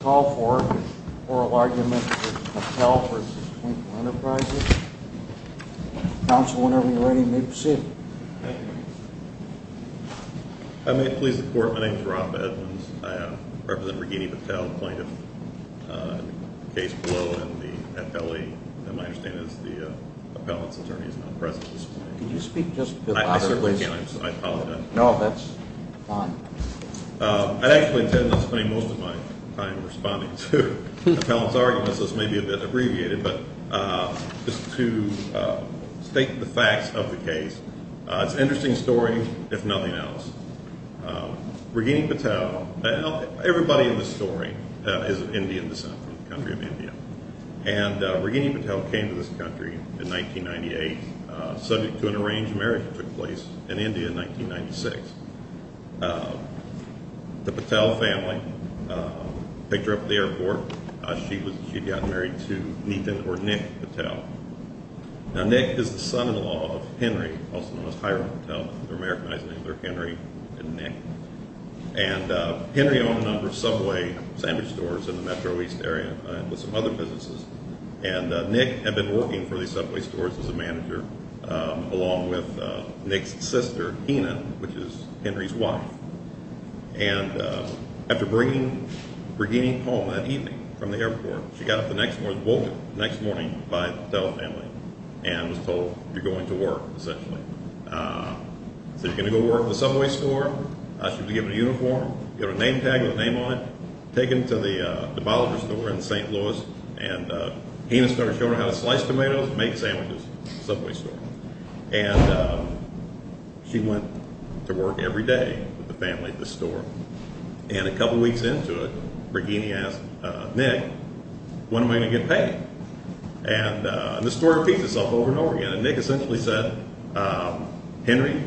I call for an oral argument with Patel v. Twinkle Enterprises. Counsel, whenever you're ready, you may proceed. If I may please the Court, my name is Rob Edmonds. I represent Ragini Patel, the plaintiff. The case below in the appellee, in my understanding, is the appellant's attorney. He's not present at this point. Could you speak just a bit louder, please? I certainly can. I apologize. No, that's fine. I'd actually intend on spending most of my time responding to the appellant's arguments. This may be a bit abbreviated, but just to state the facts of the case. It's an interesting story, if nothing else. Ragini Patel, everybody in this story is of Indian descent from the country of India. And Ragini Patel came to this country in 1998, subject to an arranged marriage that took place in India in 1996. The Patel family picked her up at the airport. She'd gotten married to Nathan or Nick Patel. Now, Nick is the son-in-law of Henry, also known as Hiram Patel. They're Americanized names. They're Henry and Nick. And Henry owned a number of Subway sandwich stores in the Metro East area with some other businesses. And Nick had been working for these Subway stores as a manager, along with Nick's sister, Hina, which is Henry's wife. And after bringing Ragini home that evening from the airport, she got up the next morning, woke up the next morning by the Patel family and was told, you're going to work, essentially. She said, you're going to go work at the Subway store? She was given a uniform, got a name tag with a name on it, taken to the debaucher store in St. Louis. And Hina started showing her how to slice tomatoes and make sandwiches at the Subway store. And she went to work every day with the family at the store. And a couple weeks into it, Ragini asked Nick, when am I going to get paid? And the story repeats itself over and over again. And Nick essentially said, Henry,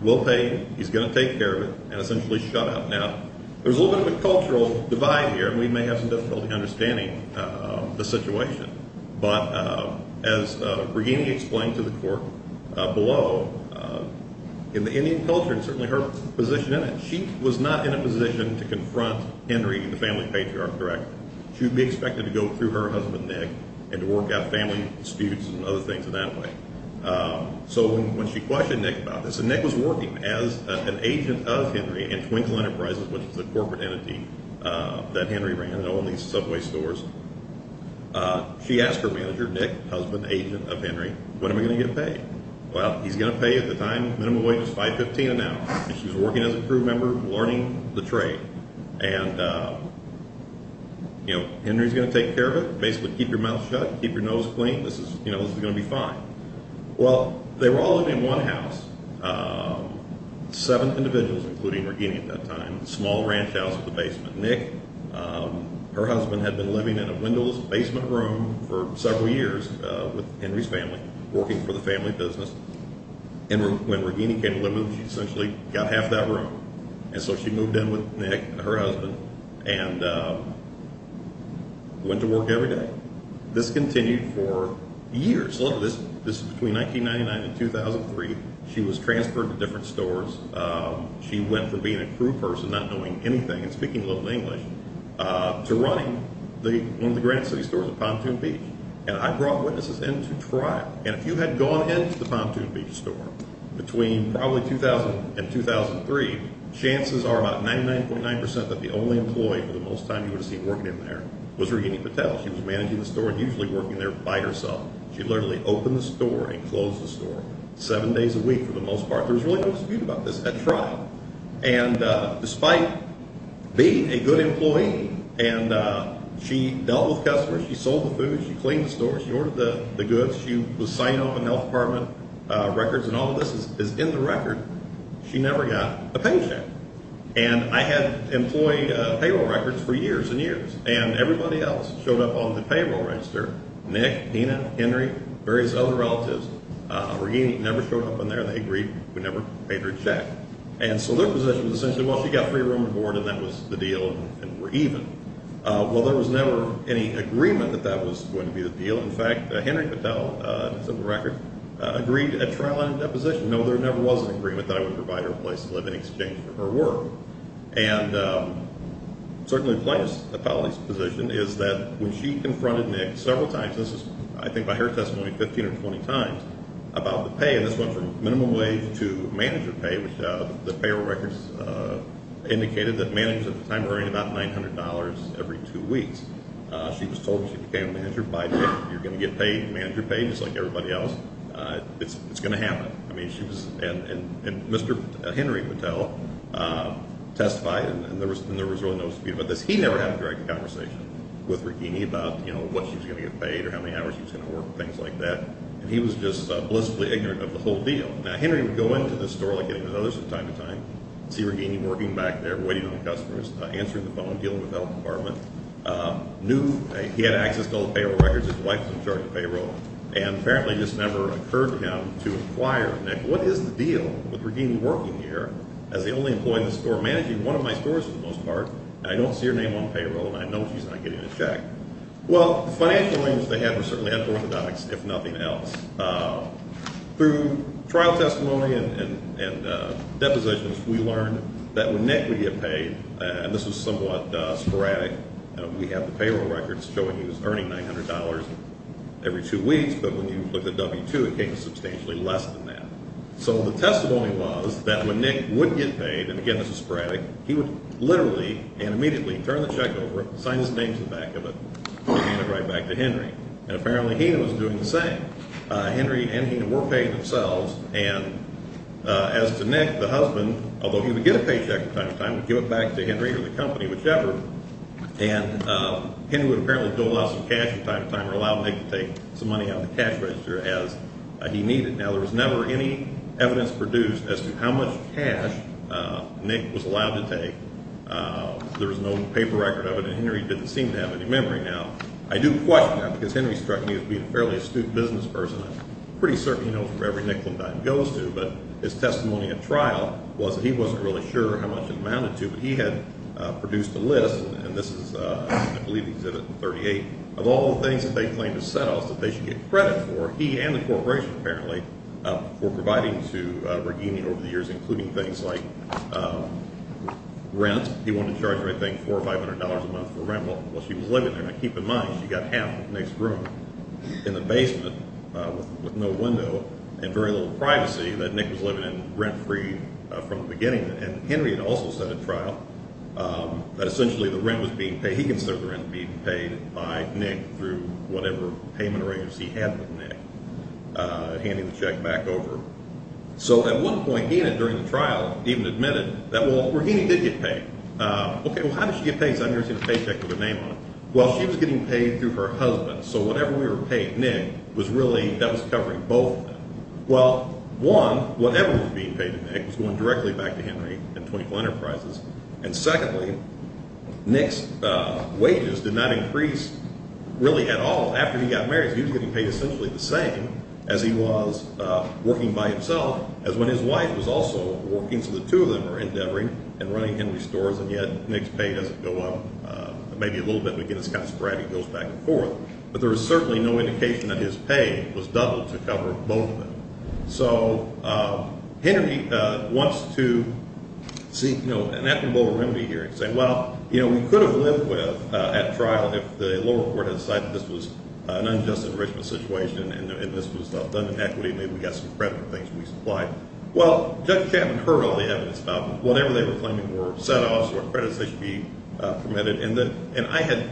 we'll pay you. He's going to take care of it, and essentially shut up. Now, there's a little bit of a cultural divide here, and we may have some difficulty understanding the situation. But as Ragini explained to the court below, in the Indian culture, and certainly her position in it, she was not in a position to confront Henry, the family patriarch, directly. She would be expected to go through her husband, Nick, and to work out family disputes and other things in that way. So when she questioned Nick about this, and Nick was working as an agent of Henry in Twinkle Enterprises, which is the corporate entity that Henry ran at all these Subway stores, she asked her manager, Nick, husband, agent of Henry, when am I going to get paid? Well, he's going to pay you at the time, minimum wage is $5.15 an hour. And she was working as a crew member, learning the trade. And Henry's going to take care of it, basically keep your mouth shut, keep your nose clean. This is going to be fine. Well, they were all living in one house, seven individuals, including Ragini at that time, small ranch house with a basement. Nick, her husband, had been living in a windowless basement room for several years with Henry's family, working for the family business. And when Ragini came to live with them, she essentially got half that room. And so she moved in with Nick, her husband, and went to work every day. This continued for years. Look at this. This is between 1999 and 2003. She was transferred to different stores. She went from being a crew person, not knowing anything and speaking little English, to running one of the Granite City stores at Pontoon Beach. And I brought witnesses in to try. And if you had gone into the Pontoon Beach store between probably 2000 and 2003, chances are about 99.9% that the only employee for the most time you would have seen working in there was Ragini Patel. She was managing the store and usually working there by herself. She literally opened the store and closed the store seven days a week for the most part. There was really no dispute about this at trial. And despite being a good employee, and she dealt with customers, she sold the food, she cleaned the store, she ordered the goods, she was signing off on health department records, and all of this is in the record, she never got a paycheck. And I had employed payroll records for years and years. And everybody else showed up on the payroll register. Nick, Dina, Henry, various other relatives. Ragini never showed up in there. They agreed we never paid her a check. And so their position was essentially, well, she got free room and board and that was the deal and we're even. Well, there was never any agreement that that was going to be the deal. In fact, Henry Patel, it's in the record, agreed at trial and at deposition. No, there never was an agreement that I would provide her a place to live in exchange for her work. And certainly the plaintiff's position is that when she confronted Nick several times, this is I think by her testimony 15 or 20 times, about the pay, and this went from minimum wage to manager pay, which the payroll records indicated that managers at the time were earning about $900 every two weeks. She was told she became a manager by Nick. You're going to get paid, manager pay, just like everybody else. It's going to happen. And Mr. Henry Patel testified, and there was really no dispute about this. He never had a direct conversation with Ragini about, you know, what she was going to get paid or how many hours she was going to work and things like that. And he was just blissfully ignorant of the whole deal. Now, Henry would go into the store like any of his others from time to time, see Ragini working back there waiting on the customers, answering the phone, dealing with the health department. He had access to all the payroll records. His wife was in charge of payroll. And apparently this never occurred to him to inquire, Nick, what is the deal with Ragini working here as the only employee in the store, managing one of my stores for the most part, and I don't see her name on payroll, and I know she's not getting a check. Well, the financial aims they had were certainly unorthodox, if nothing else. Through trial testimony and depositions, we learned that when Nick would get paid, and this was somewhat sporadic, we have the payroll records showing he was earning $900 every two weeks, but when you look at W-2, it came substantially less than that. So the testimony was that when Nick would get paid, and again this is sporadic, he would literally and immediately turn the check over, sign his name to the back of it, and hand it right back to Henry. And apparently Hena was doing the same. Henry and Hena were paying themselves. And as to Nick, the husband, although he would get a paycheck from time to time, would give it back to Henry or the company, whichever, and Henry would apparently dole out some cash from time to time or allow Nick to take some money out of the cash register as he needed. Now, there was never any evidence produced as to how much cash Nick was allowed to take. There was no paper record of it, and Henry didn't seem to have any memory. Now, I do question that because Henry struck me as being a fairly astute business person. I'm pretty certain he knows where every nickel and dime goes to, but his testimony at trial was that he wasn't really sure how much it amounted to, but he had produced a list, and this is, I believe, Exhibit 38, of all the things that they claimed as set-offs that they should get credit for, he and the corporation apparently, for providing to Braghini over the years, including things like rent. He wanted to charge her, I think, $400 or $500 a month for rent while she was living there. Now, keep in mind, she got half Nick's room in the basement with no window and very little privacy that Nick was living in rent-free from the beginning. And Henry had also said at trial that essentially the rent was being paid, he considered the rent being paid by Nick through whatever payment arrangements he had with Nick, handing the check back over. So at one point, Hannah, during the trial, even admitted that, well, Braghini did get paid. Okay, well, how did she get paid? Because I've never seen a paycheck with a name on it. Well, she was getting paid through her husband, so whatever we were paying Nick was really, that was covering both of them. Well, one, whatever was being paid to Nick was going directly back to Henry and 24 Enterprises. And secondly, Nick's wages did not increase really at all after he got married. He was getting paid essentially the same as he was working by himself, as when his wife was also working, so the two of them were endeavoring and running Henry's stores, and yet Nick's pay doesn't go up. Maybe a little bit, but again, it's kind of sporadic, it goes back and forth. But there is certainly no indication that his pay was doubled to cover both of them. So Henry wants to seek, you know, an equitable remedy here and say, well, you know, we could have lived with at trial if the lower court had decided this was an unjust enrichment situation and this was done in equity, maybe we got some credit for things we supplied. Well, Judge Chapman heard all the evidence about whatever they were claiming were set-offs or credits they should be permitted, and I had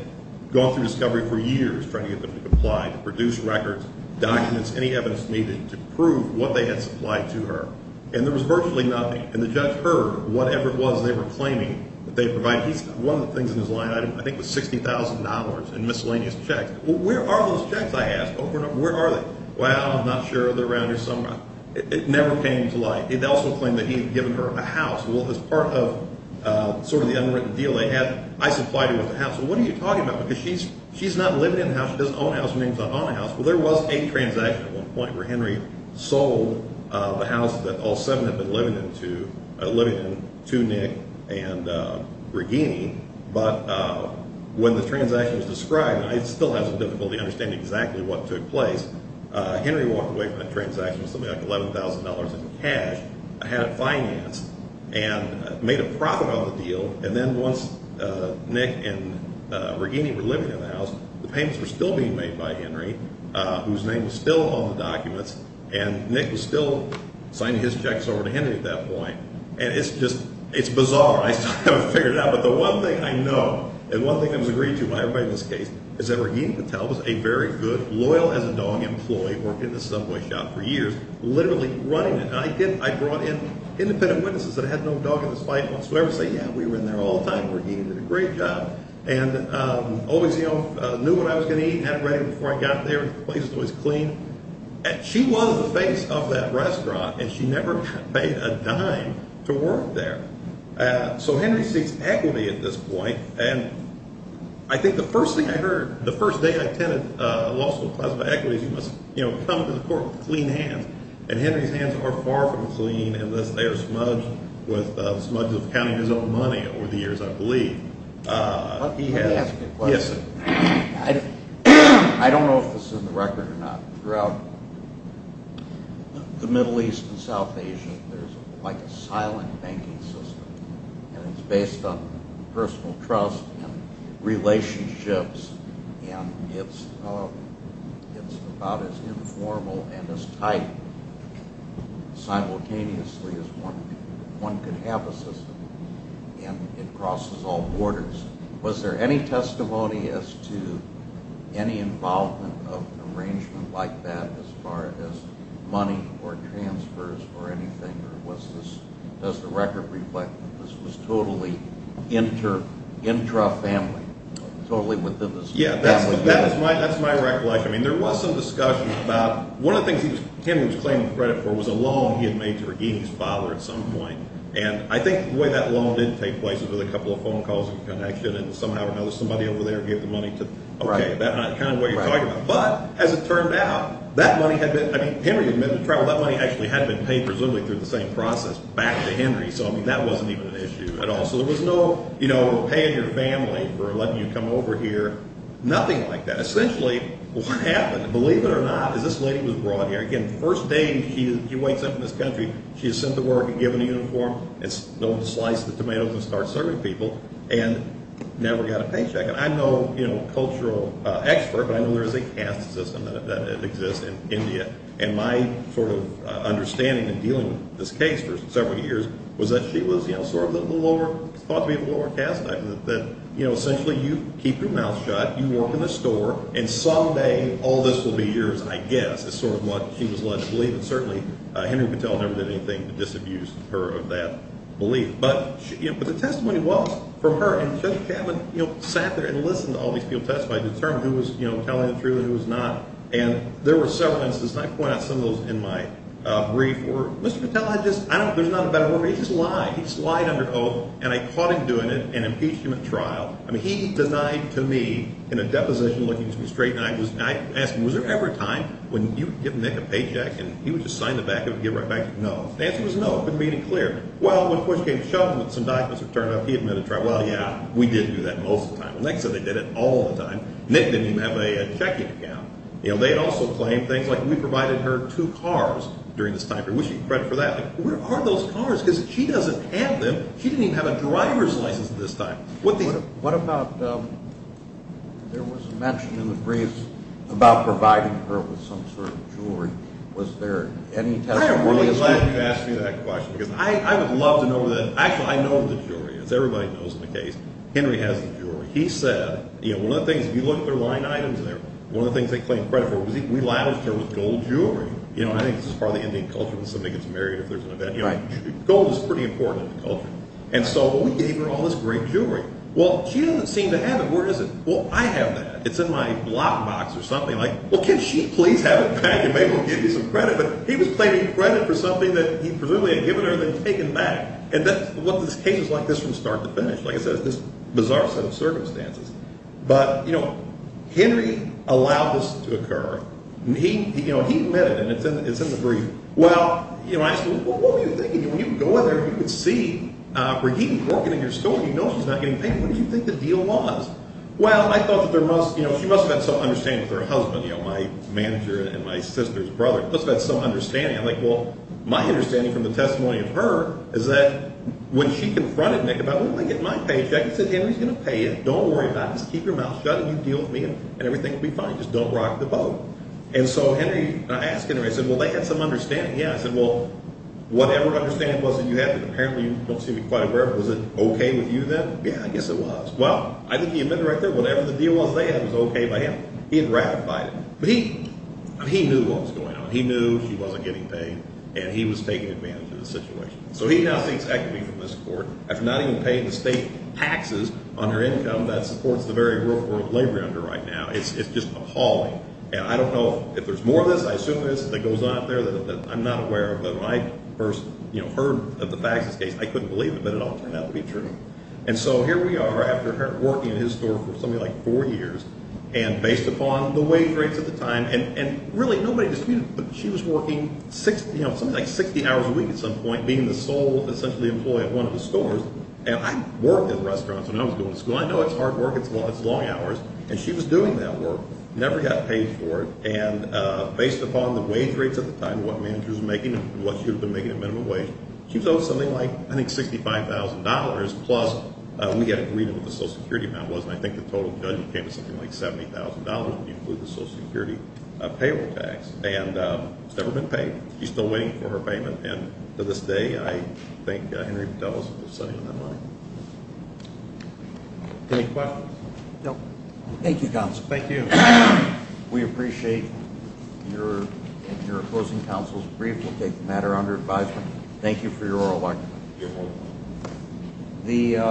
gone through discovery for years trying to get them to comply, to produce records, documents, any evidence needed to prove what they had supplied to her. And there was virtually nothing. And the judge heard whatever it was they were claiming that they provided. One of the things in his line item I think was $60,000 in miscellaneous checks. Well, where are those checks, I asked. Where are they? Well, I'm not sure, they're around here somewhere. It never came to light. It also claimed that he had given her a house. Well, as part of sort of the unwritten deal they had, I supplied her with a house. Well, what are you talking about? Because she's not living in the house. She doesn't own a house. Her name's not on the house. Well, there was a transaction at one point where Henry sold the house that all seven had been living in to Nick and Regini. But when the transaction was described, and it still has difficulty understanding exactly what took place, Henry walked away from that transaction with something like $11,000 in cash. I had it financed and made a profit on the deal. And then once Nick and Regini were living in the house, the payments were still being made by Henry, whose name was still on the documents, and Nick was still signing his checks over to Henry at that point. And it's just, it's bizarre. I still haven't figured it out. But the one thing I know, and one thing that was agreed to by everybody in this case, is that Regini Patel was a very good, loyal-as-a-dog employee, worked in the Subway shop for years, literally running it. And I did, I brought in independent witnesses that had no dog in the fight. Once whoever said, yeah, we were in there all the time, Regini did a great job. And always, you know, knew what I was going to eat and had it ready before I got there. The place was always clean. And she was the face of that restaurant, and she never paid a dime to work there. So Henry seeks equity at this point. And I think the first thing I heard, the first day I attended a law school class about equity, was, you know, come to the court with clean hands. And Henry's hands are far from clean unless they are smudged with the smudge of counting his own money over the years, I believe. Let me ask you a question. Yes, sir. I don't know if this is in the record or not. Throughout the Middle East and South Asia, there's like a silent banking system. And it's based on personal trust and relationships. And it's about as informal and as tight simultaneously as one could have a system. And it crosses all borders. Was there any testimony as to any involvement of an arrangement like that as far as money or transfers or anything? Or does the record reflect that this was totally intra-family, totally within the family? Yeah, that's my recollection. I mean, there was some discussion about one of the things Henry was claiming credit for was a loan he had made to Herguini's father at some point. And I think the way that loan did take place was with a couple of phone calls and connection, and somehow or another somebody over there gave the money to, okay, that's kind of what you're talking about. But as it turned out, that money had been – I mean, Henry had been in trouble. That money actually had been paid presumably through the same process back to Henry. So, I mean, that wasn't even an issue at all. So there was no paying your family for letting you come over here, nothing like that. Essentially, what happened, believe it or not, is this lady was brought here. Again, first day she wakes up in this country, she is sent to work and given a uniform. It's no one to slice the tomatoes and start serving people, and never got a paycheck. And I'm no cultural expert, but I know there is a caste system that exists in India, and my sort of understanding in dealing with this case for several years was that she was sort of the lower – thought to be the lower caste, that essentially you keep your mouth shut, you work in a store, and someday all this will be yours, I guess, is sort of what she was led to believe. And certainly Henry Patel never did anything to disabuse her of that belief. But the testimony was from her, and Judge Chapman sat there and listened to all these people testify, determined who was telling the truth and who was not. And there were several instances, and I point out some of those in my brief, where Mr. Patel had just – I don't know if there's not a better word, but he just lied. He just lied under oath, and I caught him doing it and impeached him at trial. I mean, he denied to me in a deposition looking to be straight, and I just – I asked him, was there ever a time when you would give Nick a paycheck, and he would just sign the back of it and give it right back to you? No. The answer was no, it couldn't be any clearer. Well, when push came to shove and some documents were turned up, he admitted to trial. Well, yeah, we did do that most of the time. Nick said they did it all the time. Nick didn't even have a checking account. They also claimed things like we provided her two cars during this time period. We should get credit for that. Where are those cars? Because she doesn't have them. She didn't even have a driver's license at this time. What about – there was a mention in the brief about providing her with some sort of jewelry. Was there any testimony – I am really glad you asked me that question because I would love to know the – actually, I know the jewelry. Everybody knows the case. Henry has the jewelry. He said – one of the things, if you look at their line items there, one of the things they claimed credit for, we labeled her with gold jewelry. I think this is part of the Indian culture. When somebody gets married, if there's an event, gold is pretty important in the culture. And so we gave her all this great jewelry. Well, she doesn't seem to have it. Where is it? Well, I have that. It's in my lockbox or something. Well, can she please have it back and maybe we'll give you some credit? But he was claiming credit for something that he presumably had given her and then taken back. And that's what this case is like from start to finish. Like I said, it's this bizarre set of circumstances. But, you know, Henry allowed this to occur. He admitted – and it's in the brief. Well, you know, I asked him, what were you thinking? When you go in there, you would see Raheem working in your store. You know she's not getting paid. What did you think the deal was? Well, I thought that there must – she must have had some understanding with her husband, you know, my manager and my sister's brother. Must have had some understanding. I'm like, well, my understanding from the testimony of her is that when she confronted Nick about, well, I'm going to get my paycheck, I said, Henry's going to pay you. Don't worry about it. Just keep your mouth shut and you deal with me and everything will be fine. Just don't rock the boat. And so Henry – I asked Henry, I said, well, they had some understanding. Yeah, I said, well, whatever understanding it was that you had, but apparently you don't seem to be quite aware of it, was it okay with you then? Yeah, I guess it was. Well, I think he admitted right there whatever the deal was they had was okay by him. He had ratified it. But he knew what was going on. He knew she wasn't getting paid and he was taking advantage of the situation. So he now takes equity from this court. After not even paying the state taxes on her income, that's the courts the very real world labor under right now. It's just appalling. And I don't know if there's more of this. I assume there's – that goes on out there that I'm not aware of. But when I first, you know, heard of the faxes case, I couldn't believe it, but it all turned out to be true. And so here we are after working in his store for something like four years and based upon the wage rates at the time, and really nobody disputed it, but she was working something like 60 hours a week at some point, being the sole essentially employee at one of the stores. And I worked in restaurants when I was going to school. I know it's hard work. It's long hours. And she was doing that work, never got paid for it. And based upon the wage rates at the time, what managers were making and what she would have been making at minimum wage, she was owed something like I think $65,000 plus we got agreed on what the Social Security amount was, and I think the total budget came to something like $70,000, including the Social Security payroll tax. And it's never been paid. She's still waiting for her payment. And to this day, I think Henry Patel is still sitting on that money. Any questions? No. Thank you, Counsel. Thank you. We appreciate your closing counsel's brief. We'll take the matter under advisement. Thank you for your oral argument. You're welcome.